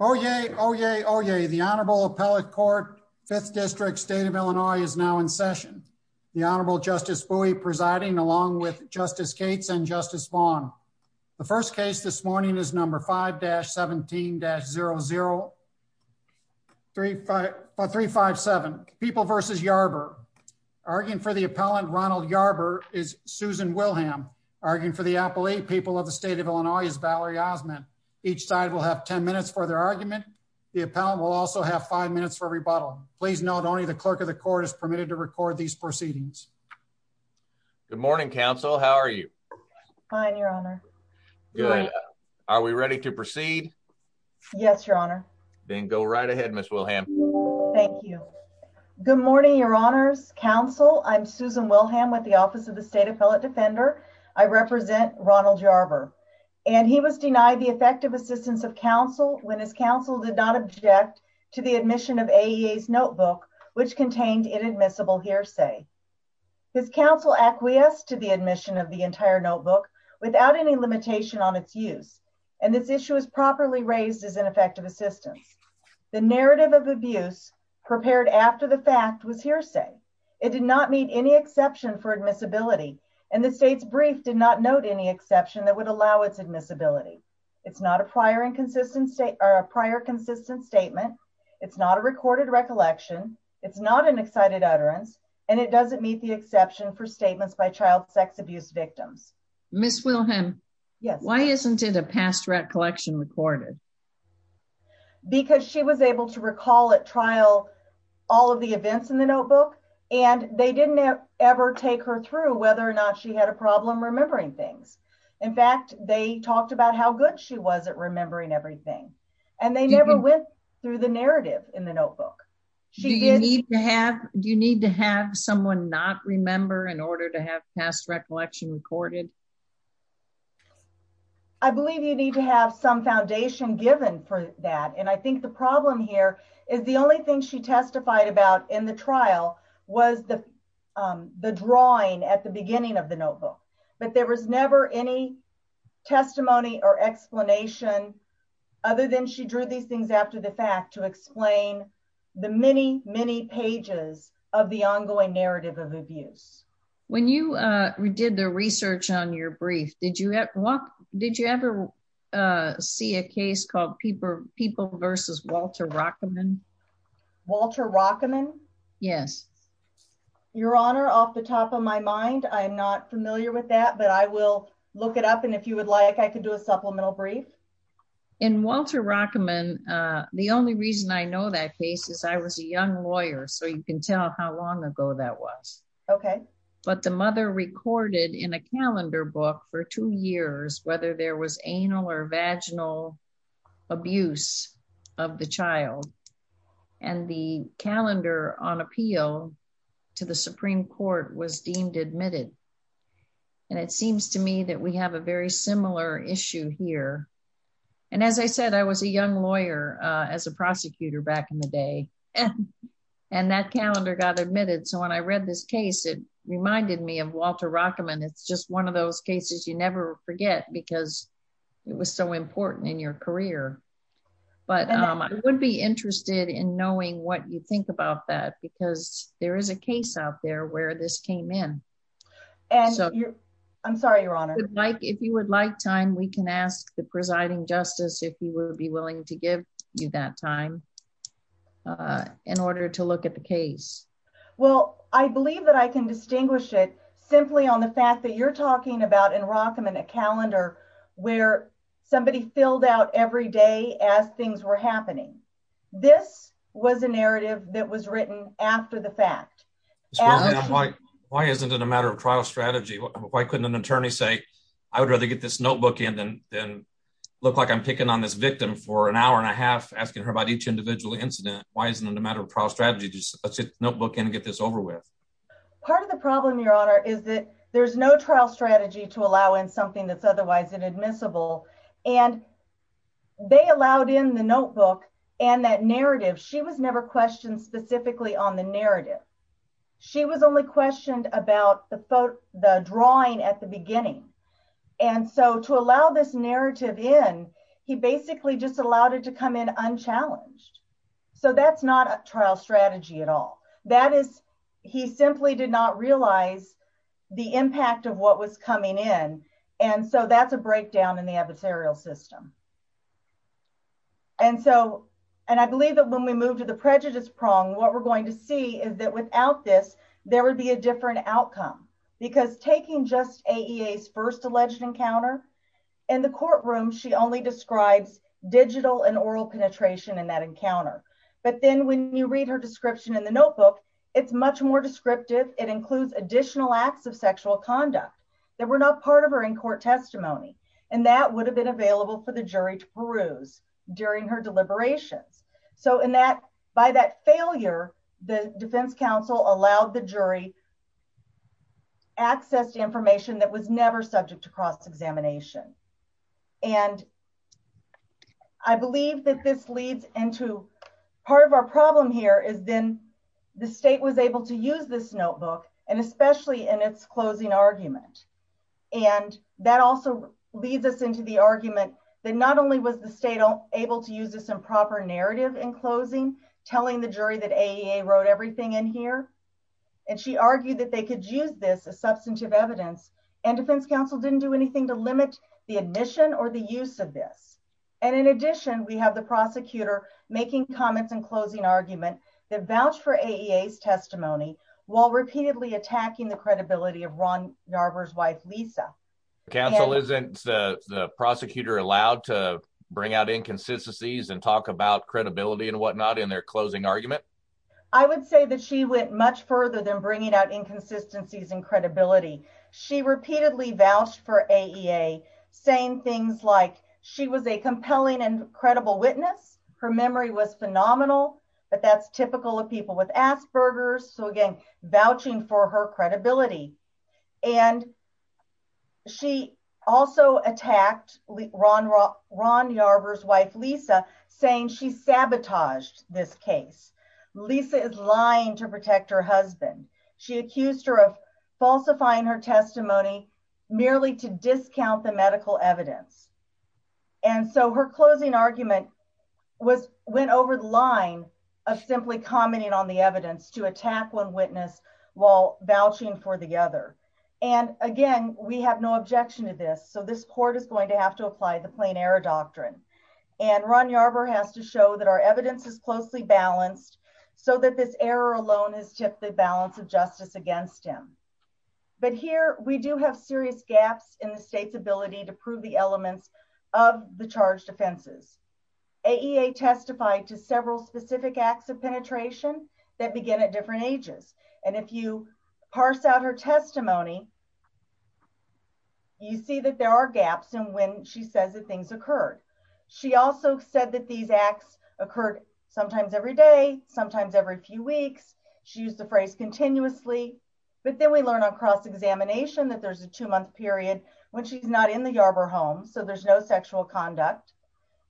Oh, yay. Oh, yay. Oh, yay. The Honorable Appellate Court Fifth District State of Illinois is now in session. The Honorable Justice Bowie presiding along with Justice Cates and Justice Vaughn. The first case this morning is number 5-17-00357, People v. Yarber. Arguing for the appellant, Ronald Yarber, is Susan Wilhelm. Arguing for the appellate, People of the State of Illinois is Valerie Osmond. Each side will have 10 minutes for their argument. The appellant will also have 5 minutes for rebuttal. Please note only the clerk of the court is permitted to record these proceedings. Good morning, counsel. How are you? Fine, Your Honor. Good. Are we ready to proceed? Yes, Your Honor. Then go right ahead, Ms. Wilhelm. Thank you. Good morning, Your Honors. Counsel, I'm Susan Wilhelm with the Office of the State Appellate Defender. I represent Ronald Yarber. And he was denied the effective assistance of counsel when his counsel did not object to the admission of AEA's notebook, which contained inadmissible hearsay. His counsel acquiesced to the admission of the entire notebook without any limitation on its use. And this issue is properly raised as ineffective assistance. The narrative of abuse prepared after the fact was hearsay. It did not meet any exception for admissibility. And the state's brief did not note any exception that would allow its admissibility. It's not a prior consistent statement. It's not a recorded recollection. It's not an excited utterance. And it doesn't meet the exception for statements by child sex abuse victims. Ms. Wilhelm, why isn't it a past recollection recorded? Because she was able to recall at trial all of the events in the notebook. And they didn't ever take her through whether or not she had a problem remembering things. In fact, they talked about how good she was at remembering everything. And they never went through the narrative in the notebook. Do you need to have someone not remember in order to have past recollection recorded? I believe you need to have some foundation given for that. And I think the problem here is the only thing she testified about in the trial was the drawing at the beginning of the notebook. But there was never any testimony or explanation other than she drew these things after the fact to explain the many, many pages of the ongoing narrative of abuse. When you did the research on your brief, did you ever see a case called people versus Walter Rockman? Walter Rockman? Yes. Your honor off the top of my mind. I'm not familiar with that. But I will look it up. And if you would like I can do a supplemental brief. In Walter Rockman. The only reason I know that case is I was a young lawyer. So you can tell how long ago that was. Okay. But the mother recorded in a calendar book for two years, whether there was anal or vaginal abuse of the child. And the calendar on appeal to the Supreme Court was deemed admitted. And it seems to me that we have a very similar issue here. And as I said, I was a young lawyer as a prosecutor back in the day. And that calendar got admitted. So when I read this case, it reminded me of Walter Rockman. It's just one of those cases you never forget, because it was so important in your career. But I would be interested in knowing what you think about that. Because there is a case out there where this came in. And you're, I'm sorry, your honor, like if you would like time, we can ask the presiding justice if you will be willing to give you that time in order to look at the case. Well, I believe I can distinguish it simply on the fact that you're talking about in Rockman, a calendar where somebody filled out every day as things were happening. This was a narrative that was written after the fact. Why isn't it a matter of trial strategy? Why couldn't an attorney say, I would rather get this notebook in and then look like I'm picking on this victim for an hour and a half asking her about each individual incident? Why isn't it a matter of trial strategy notebook and get this over with? Part of the problem, your honor, is that there's no trial strategy to allow in something that's otherwise inadmissible. And they allowed in the notebook, and that narrative, she was never questioned specifically on the narrative. She was only questioned about the photo, the drawing at the beginning. And so to allow this narrative in, he basically just allowed it to come in unchallenged. So that's not a trial strategy at all. That is, he simply did not realize the impact of what was coming in. And so that's a breakdown in the adversarial system. And so, and I believe that when we move to the prejudice prong, what we're going to see is that without this, there would be a different outcome. Because taking just AEA's first alleged encounter, in the courtroom, she only describes digital and oral penetration in that encounter. But then when you read her description in the notebook, it's much more descriptive. It includes additional acts of sexual conduct that were not part of her in court testimony. And that would have been available for the jury to peruse during her deliberations. So in that, by that failure, the defense counsel allowed the jury to access information that was never subject to cross-examination. And I believe that this leads into part of our problem here is then the state was able to use this notebook, and especially in its closing argument. And that also leads us into the argument that not only was the state able to use this improper narrative in closing, telling the jury that AEA wrote everything in here, and she argued that they could use this as substantive evidence, and defense counsel didn't do anything to limit the admission or the use of this. And in addition, we have the prosecutor making comments and closing argument that vouch for AEA's testimony, while repeatedly attacking the credibility of Ron Narver's wife, Lisa. Counsel isn't the prosecutor allowed to bring out inconsistencies and talk about credibility and whatnot in their closing argument? I would say that she went much further than bringing out inconsistencies and credibility. She repeatedly vouched for AEA, saying things like she was a compelling and credible witness, her memory was phenomenal, but that's typical of people with Asperger's. So again, vouching for her credibility. And she also attacked Ron Narver's wife, Lisa, saying she sabotaged this case. Lisa is lying to protect her husband. She accused her of falsifying her testimony merely to discount the medical evidence. And so her closing argument went over the line of simply commenting on the evidence to attack one witness while vouching for the other. And again, we have no objection to this. So this court is going to have to apply the has to show that our evidence is closely balanced. So that this error alone is just the balance of justice against him. But here we do have serious gaps in the state's ability to prove the elements of the charged offenses. AEA testified to several specific acts of penetration that begin at different ages. And if you parse out her testimony, you see that there are gaps in when she says that things occurred. She also said that these acts occurred sometimes every day, sometimes every few weeks. She used the phrase continuously. But then we learn on cross-examination that there's a two-month period when she's not in the Yarbrough home, so there's no sexual conduct.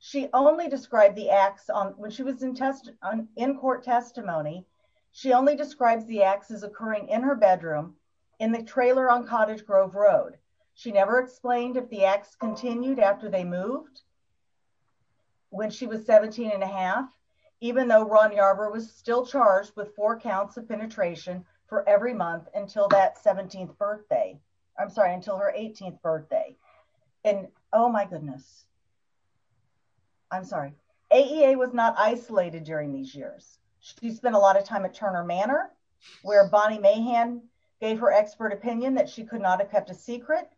She only described the acts on when she was in court testimony. She only describes the acts as occurring in her bedroom in the trailer on Cottage Grove Road. She never explained if the acts continued after they moved when she was 17 and a half, even though Ron Yarbrough was still charged with four counts of penetration for every month until that 17th birthday. I'm sorry, until her 18th birthday. And oh, my goodness. I'm sorry. AEA was not isolated during these years. She spent a lot of time at Turner Manor where Bonnie Mahan gave her expert opinion that she could not have kept a secret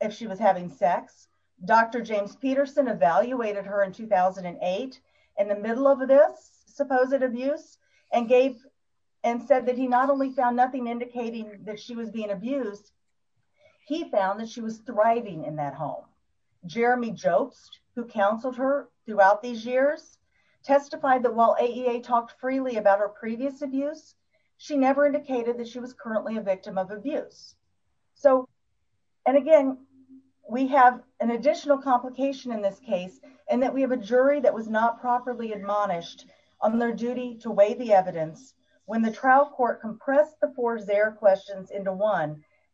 if she was having sex. Dr. James Peterson evaluated her in 2008 in the middle of this supposed abuse and said that he not only found nothing indicating that she was being abused, he found that she was thriving in that home. Jeremy Jobst, who counseled her throughout these years, testified that while AEA talked freely about her previous abuse, she never indicated that she was currently a victim of abuse. And again, we have an additional complication in this case in that we have a jury that was not properly admonished on their duty to weigh the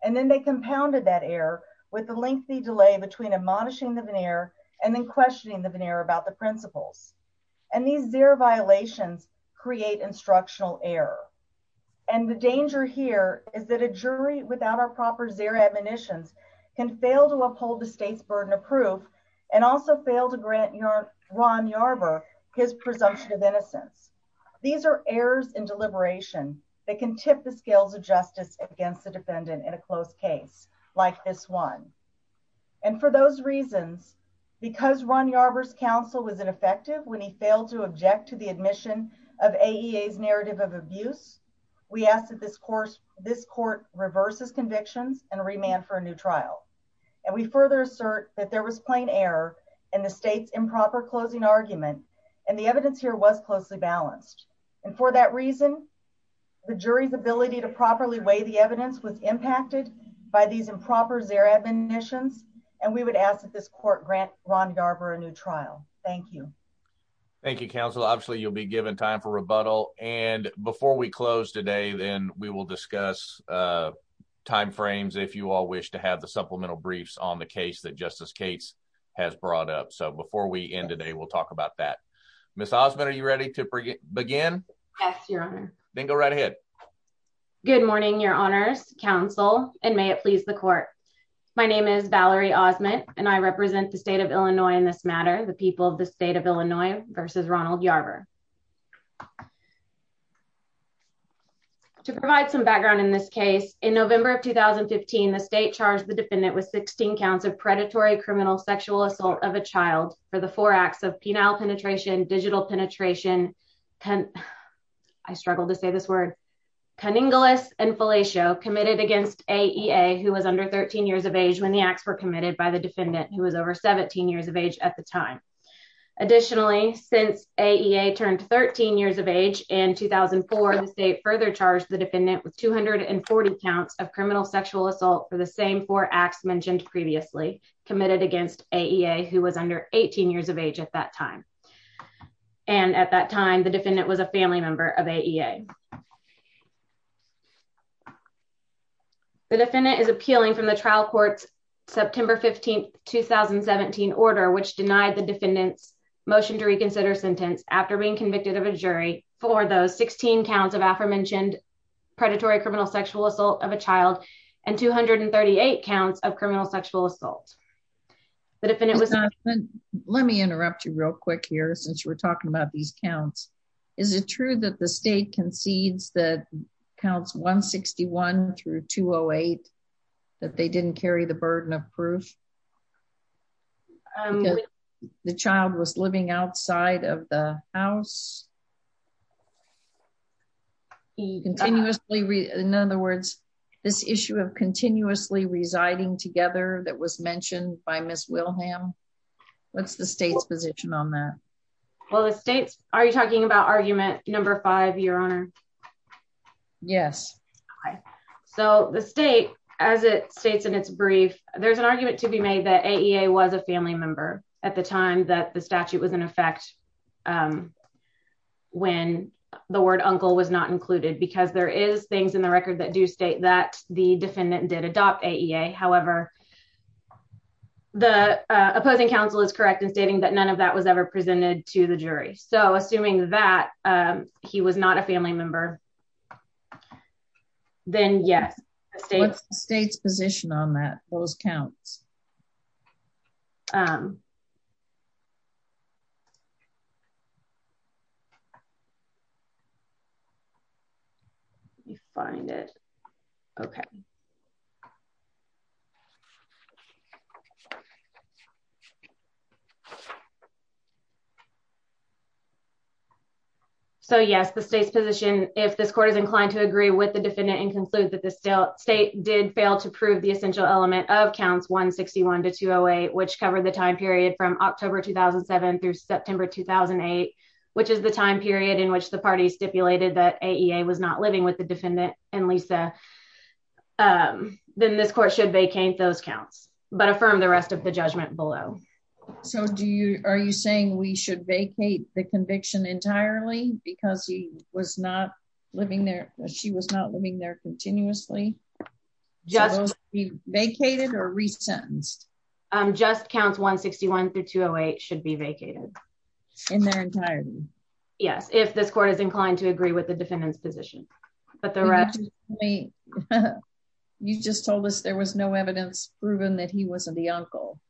and then they compounded that error with the lengthy delay between admonishing the veneer and then questioning the veneer about the principles. And these zero violations create instructional error. And the danger here is that a jury without our proper zero admonitions can fail to uphold the state's burden of proof and also fail to grant Ron Yarbrough his presumption of innocence. These are errors in deliberation that can tip the scales of justice against the defendant in a close case like this one. And for those reasons, because Ron Yarbrough's counsel was ineffective when he failed to object to the admission of AEA's narrative of abuse, we ask that this court reverses convictions and remand for a new trial. And we further assert that there was plain error in the state's improper closing argument. And the evidence here was closely balanced. And for that reason, the jury's ability to properly weigh the evidence was impacted by these improper zero admonitions. And we would ask that this court grant Ron Yarbrough a new trial. Thank you. Thank you, counsel. Obviously, you'll be given time for rebuttal. And before we close today, then we will discuss timeframes if you all wish to have the supplemental briefs on the case that Justice Cates has brought up. So before we end today, we'll talk about that. Ms. Osmond, are you ready to begin? Yes, your honor. Then go right ahead. Good morning, your honors, counsel, and may it please the court. My name is Valerie Osmond, and I represent the state of Illinois in this matter, the people of the state of Illinois versus Ronald Yarbrough. To provide some background in this case, in November of 2015, the state charged the defendant with 16 counts of predatory criminal sexual assault of a child for the four acts of penile penetration, digital penetration, and I struggle to say this word, conningless and fellatio committed against AEA, who was under 13 years of age when the acts were committed by the defendant who was over 17 years of age at the time. Additionally, since AEA turned 13 years of age in 2004, the state further charged the defendant with 240 counts of criminal sexual assault for the same four acts mentioned previously committed against AEA, who was under 18 years of age at that time. And at that time, the defendant was a family member of AEA. The defendant is appealing from the trial court's September 15, 2017 order, which denied the defendant's motion to reconsider sentence after being convicted of a jury for those 16 counts of predatory criminal sexual assault of a child and 238 counts of criminal sexual assault. Let me interrupt you real quick here since we're talking about these counts. Is it true that the state concedes that counts 161 through 208 that they didn't carry the burden of proof? The child was living outside of the house? Continuously, in other words, this issue of continuously residing together that was mentioned by Ms. Wilhelm, what's the state's position on that? Well, the state's, are you talking about argument number five, your honor? Yes. So the state, as it states in its brief, there's an argument to be made that AEA was a family member at the time that the statute was in effect when the word uncle was not included, because there is things in the record that do state that the defendant did adopt AEA. However, the opposing counsel is correct in stating that none of that was ever presented to the jury. So assuming that he was not a family member, then yes. What's the state's position on that, those counts? Let me find it. Okay. So yes, the state's position, if this court is inclined to agree with the defendant and conclude that the state did fail to prove the essential element of counts 161 to 208, which covered the time period from October, 2007 through September, 2008, which is the time period in which the party stipulated that AEA was not living with the defendant and Lisa, then this court should vacate those counts, but affirm the rest of the judgment below. So do you, are you saying we should vacate the conviction entirely because he was not living there? She was not living there continuously? Vacated or resentenced? Just counts 161 through 208 should be vacated. In their entirety? Yes. If this court is inclined to agree with the defendant's position. You just told us there was no evidence proven that he wasn't the uncle.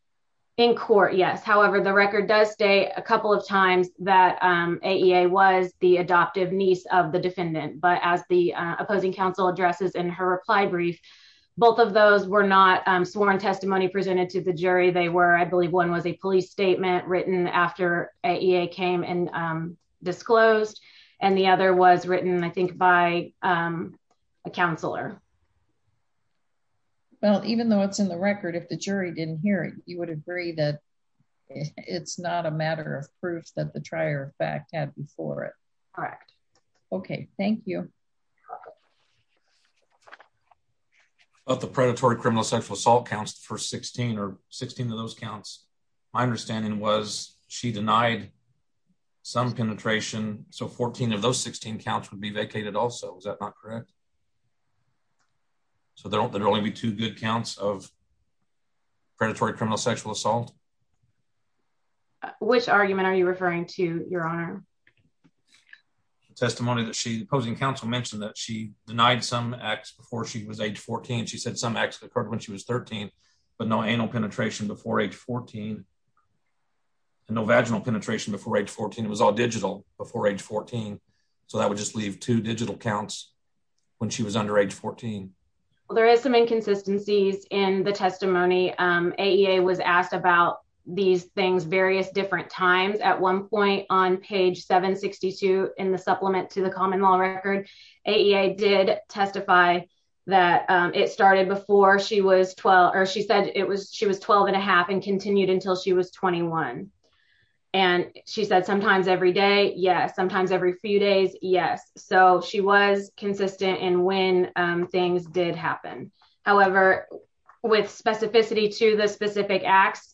In court, yes. However, the record does state a couple of times that AEA was the adoptive niece of the defendant, but as the opposing counsel addresses in her reply brief, both of those were not sworn testimony presented to the jury. They were, I believe one was a police statement written after AEA came and disclosed and the other was written, I think, by a counselor. Well, even though it's in the record, if the jury didn't hear it, you would agree that it's not a matter of proof that the trier of fact had before it. Correct. Okay. Thank you. I thought the predatory criminal sexual assault counts for 16 or 16 of those counts. My understanding was she denied some penetration. So 14 of those 16 counts would be vacated also. Is that not correct? So there don't, there'll only be two good counts of predatory criminal sexual assault. Which argument are you referring to your honor? The testimony that she, the opposing counsel mentioned that she denied some acts before she was age 14. She said some acts occurred when she was 13, but no anal penetration before age 14 and no vaginal penetration before age 14. It was all digital before age 14. So that would just leave two digital counts when she was under age 14. Well, there is some inconsistencies in the testimony. AEA was asked about these things various different times at one point on page 762 in the supplement to the common law record. AEA did testify that it started before she was 12, or she said it was, she was 12 and a half and continued until she was 21. And she said sometimes every day. Yes. Sometimes every few days. Yes. So she was consistent in when things did happen. However, with specificity to the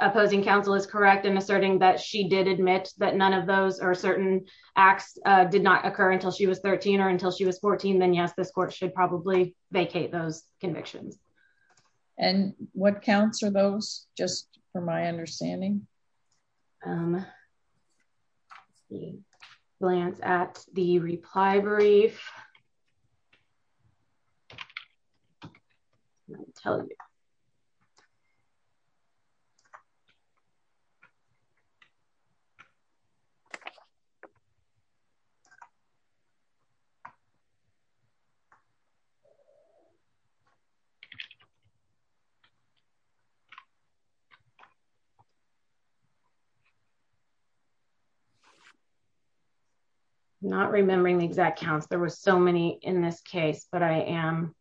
opposing counsel is correct. And asserting that she did admit that none of those are certain acts did not occur until she was 13 or until she was 14. Then yes, this court should probably vacate those convictions. And what counts are those just from my understanding? Um, glance at the reply brief. I'm not remembering the exact counts. There were so many in this case, but I am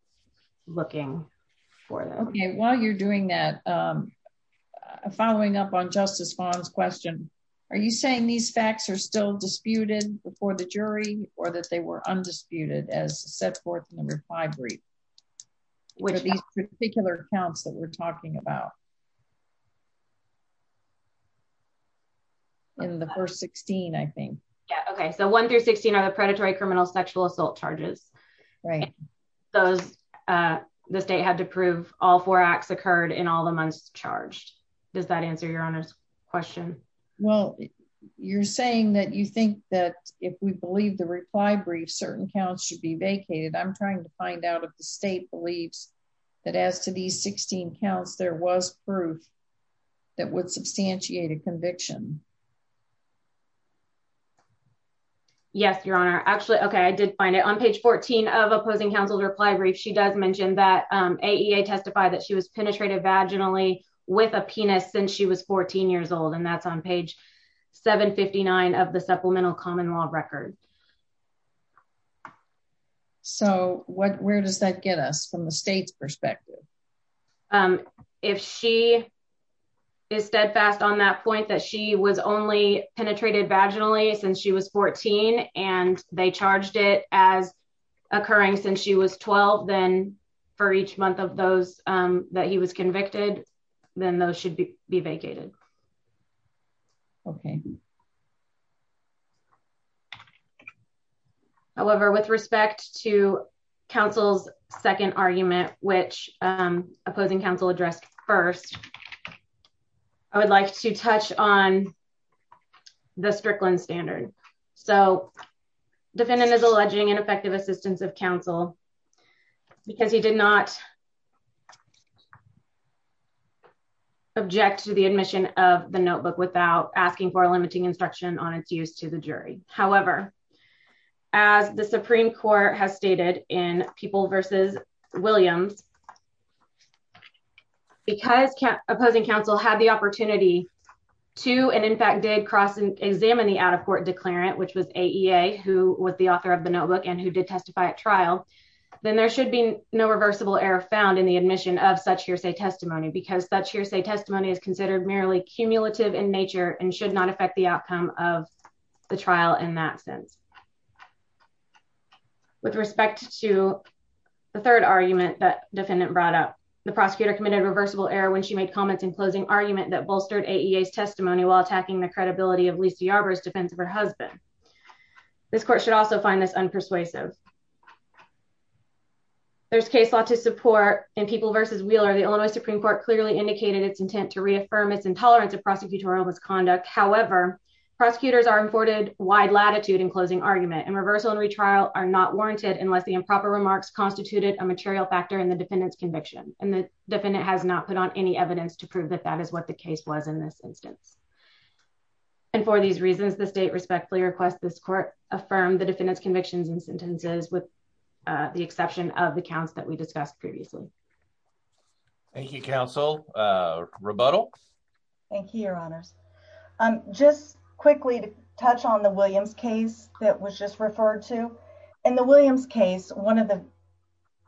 looking for them. Okay. While you're doing that, um, following up on justice bonds question, are you saying these facts are still disputed before the jury or that they were undisputed as set forth in the reply brief? Which particular counts that we're talking about in the first 16, I think. Yeah. Okay. So one through 16 are the predatory criminal sexual assault charges. Right. Those, uh, the state had to prove all four acts occurred in all the months charged. Does that answer your honest question? Well, you're saying that you think that if we believe the reply brief, certain counts should be vacated. I'm trying to find out if the state believes that as to these 16 counts, there was proof that would substantiate a conviction. Yes, your honor. Actually. Okay. I did find it on page 14 of opposing counsel to reply brief. She does mention that, um, AEA testify that she was penetrated vaginally with a penis since she was 14 years old and that's on page 759 of the supplemental common law record. So what, where does that get us from the state's perspective? Um, if she is steadfast on that point that she was only penetrated vaginally since she was 14 and they charged it as occurring since she was 12, then for each month of those, um, he was convicted, then those should be vacated. Okay. However, with respect to counsel's second argument, which, um, opposing counsel addressed first, I would like to touch on the Strickland standard. So defendant is alleging ineffective counsel because he did not object to the admission of the notebook without asking for a limiting instruction on its use to the jury. However, as the Supreme court has stated in people versus Williams, because opposing counsel had the opportunity to, and in fact did cross and examine the out of court declarant, which was AEA, who was the author of the notebook and who did testify at trial, then there should be no reversible error found in the admission of such hearsay testimony because that's hearsay testimony is considered merely cumulative in nature and should not affect the outcome of the trial in that sense. With respect to the third argument that defendant brought up, the prosecutor committed reversible error when she made comments in closing argument that bolstered AEA testimony while attacking the credibility of Lisa Yarbrough defense of her husband. This court should also find this unpersuasive. There's case law to support in people versus Wheeler. The Illinois Supreme court clearly indicated its intent to reaffirm its intolerance of prosecutorial misconduct. However, prosecutors are imported wide latitude in closing argument and reversal and retrial are not warranted unless the improper remarks constituted a material factor in the defendant's conviction. And the defendant has not put on any evidence to prove that that is what the case was in this instance. And for these reasons, the state respectfully request this court affirm the defendant's convictions and sentences with the exception of the counts that we discussed previously. Thank you, counsel. Rebuttal. Thank you, your honors. Just quickly to touch on the Williams case that was just referred to. In the Williams case, one of the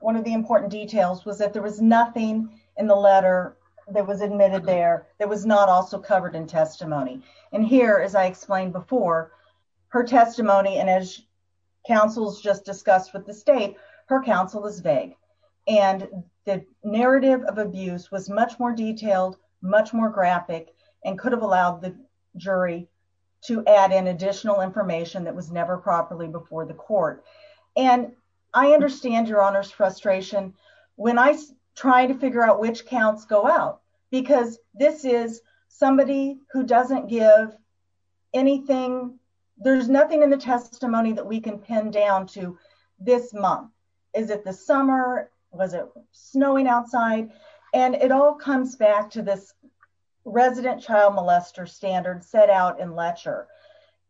one of the important details was that there was nothing in the letter that was admitted there that was not also covered in testimony. And here, as I explained before, her testimony and as counsels just discussed with the state, her counsel is vague. And the narrative of abuse was much more detailed, much more graphic, and could have allowed the jury to add in additional information that was never properly before the court. And I understand your honors frustration, when I try to figure out which counts go out, because this is somebody who doesn't give anything. There's nothing in the testimony that we can pin down to this month. Is it the summer? Was it snowing outside? And it all comes back to this resident child molester standard set out in Letcher.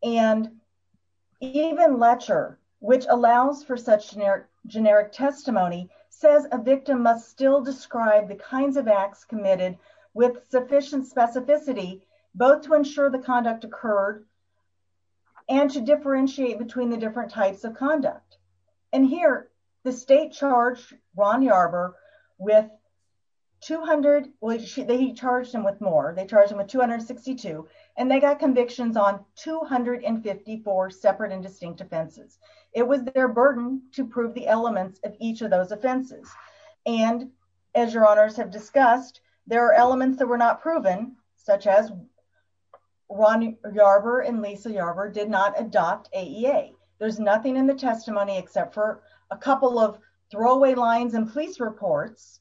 And even Letcher, which allows for such generic testimony, says a victim must still describe the kinds of acts committed with sufficient specificity, both to ensure the conduct occurred, and to differentiate between the different types of conduct. And here, the state charged Ron Yarber with 200, they charged him with more, they charged him with 262, and they got convictions on 254 separate and distinct offenses. It was their burden to prove the elements of each of those offenses. And as your honors have discussed, there are elements that were not proven, such as Ron Yarber and Lisa Yarber did not adopt AEA. There's nothing in the testimony except for a couple of throwaway lines and police reports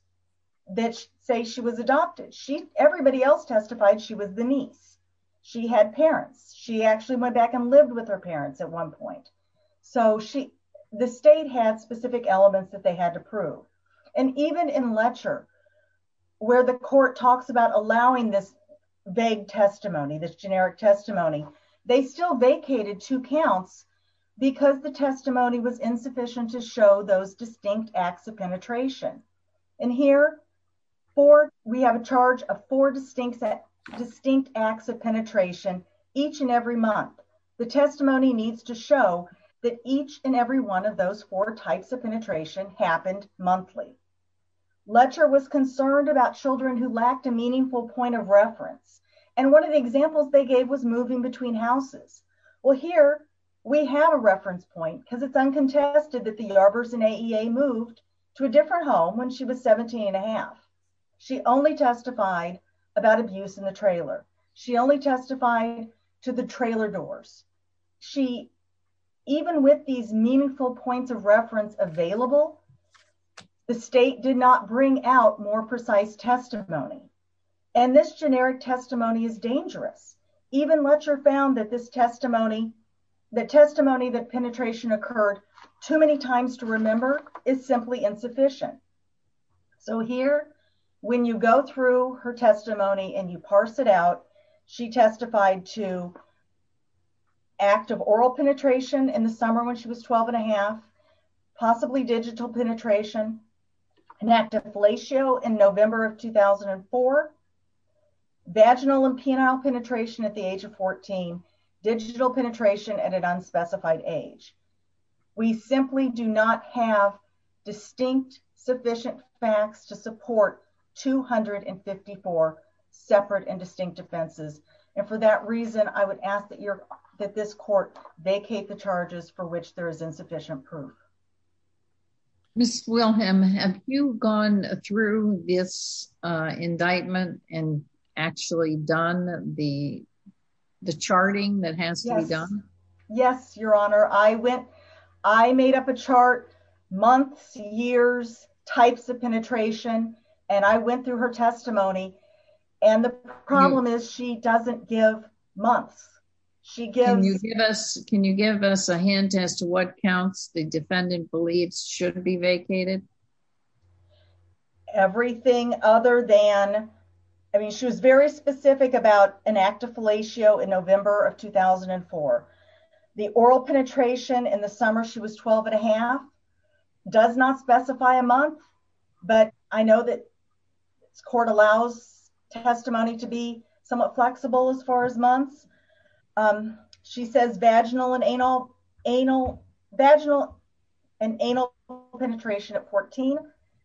that say she was adopted. Everybody else testified she was the niece. She had parents. She actually went back and lived with her parents at one point. So the state had specific elements that they had to prove. And even in Letcher, where the court talks about allowing this vague testimony, this generic testimony, they still vacated two counts because the testimony was insufficient to show those distinct acts of penetration. And here, we have a charge of four distinct acts of penetration each and every month. The testimony needs to show that each and every one of those four types of penetration happened monthly. Letcher was concerned about children who lacked a meaningful point of reference. And one of the examples they gave was moving between houses. Well, here we have a reference point because it's uncontested that the Yarbers and AEA moved to a different home when she was 17 and a half. She only testified about abuse in the trailer. She only testified to the trailer doors. She, even with these meaningful points of reference available, the state did not bring out more precise testimony. And this generic testimony is dangerous. Even Letcher found that this testimony, the testimony that penetration occurred too many times to remember is simply insufficient. So here, when you go through her testimony and you parse it out, she testified to active oral penetration in the summer when she was 12 and a half, possibly digital penetration, an act of fellatio in November of 2004, vaginal and penile penetration at the age of 14, digital penetration at an unspecified age. We simply do not have distinct sufficient facts to support 254 separate and distinct defenses. And for that reason, I would ask that this court vacate the charges for which there is actually done the, the charting that has to be done. Yes, your honor. I went, I made up a chart months, years, types of penetration, and I went through her testimony. And the problem is she doesn't give months. She gives us, can you give us a hint as to what counts the defendant believes shouldn't be vacated? Everything other than, I mean, she was very specific about an act of fellatio in November of 2004, the oral penetration in the summer. She was 12 and a half does not specify a month, but I know that court allows testimony to be somewhat flexible as far as months. She says vaginal and anal, anal, vaginal and anal penetration at 14,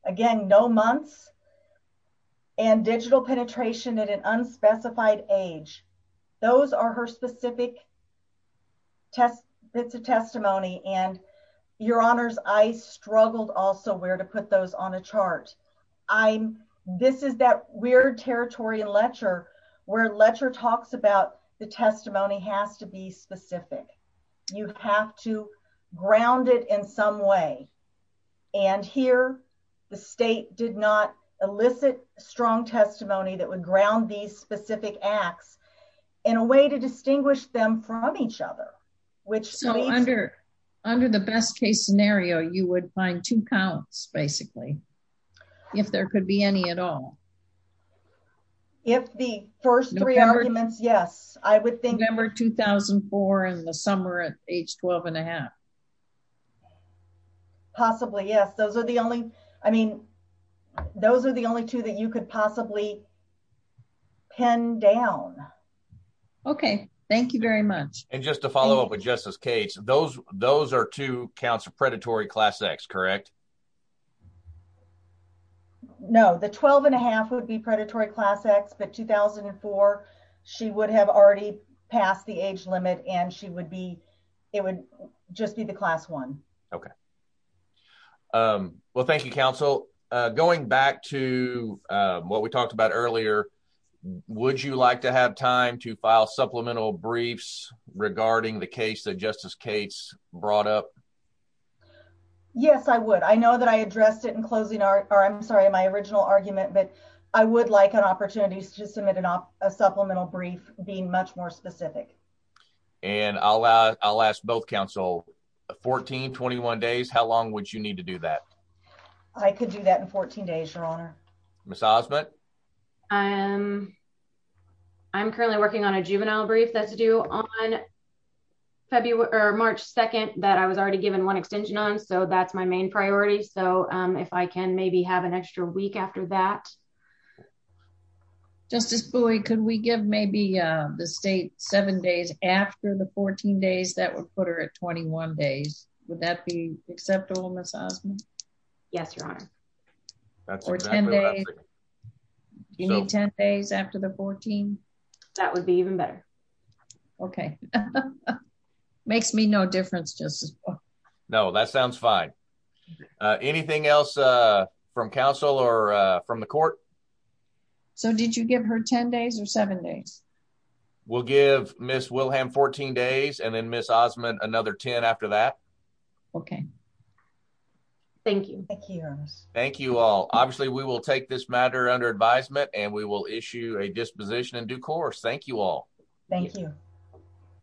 again, no months and digital penetration at an unspecified age. Those are her specific test bits of testimony. And your honors, I struggled also where to put those on a chart. I'm, this is that weird territory in Letcher where Letcher talks about the testimony has to be specific. You have to ground it in some way. And here the state did not elicit strong testimony that would ground these specific acts in a way to distinguish them from each other. Which so under, under the best case scenario, you would find two counts basically, if there could be any at all. If the first three arguments, yes, I would think November 2004 in the summer at age 12 and a half. Possibly. Yes. Those are the only, I mean, those are the only two that you could possibly pin down. Okay. Thank you very much. And just to follow up with Justice Cates, those are two counts of predatory class X, correct? No, the 12 and a half would be predatory class X, but 2004, she would have already passed the age limit and she would be, it would just be the class one. Okay. Well, thank you, counsel. Going back to what we talked about earlier, would you like to have time to file supplemental briefs regarding the case that Justice Cates brought up? Yes, I would. I know that I addressed it in closing art or I'm sorry, my original argument, but I would like an opportunity to submit a supplemental brief being much more specific. And I'll ask both counsel, 14, 21 days, how long would you need to do that? I could do that in 14 days, your honor. Ms. Osment? I'm currently working on a juvenile brief that's due on February or March 2nd that I was already given one extension on, so that's my main priority. So if I can maybe have an extra week after that. Okay. Justice Bowie, could we give maybe the state seven days after the 14 days that would put her at 21 days? Would that be acceptable, Ms. Osment? Yes, your honor. Or 10 days, do you need 10 days after the 14? That would be even better. Okay. Makes me no difference, Justice Bowie. No, that sounds fine. Anything else from counsel or from the court? So did you give her 10 days or seven days? We'll give Ms. Wilhelm 14 days and then Ms. Osment another 10 after that. Okay. Thank you. Thank you, your honor. Thank you all. Obviously, we will take this matter under advisement and we will issue a disposition in due course. Thank you all. Thank you.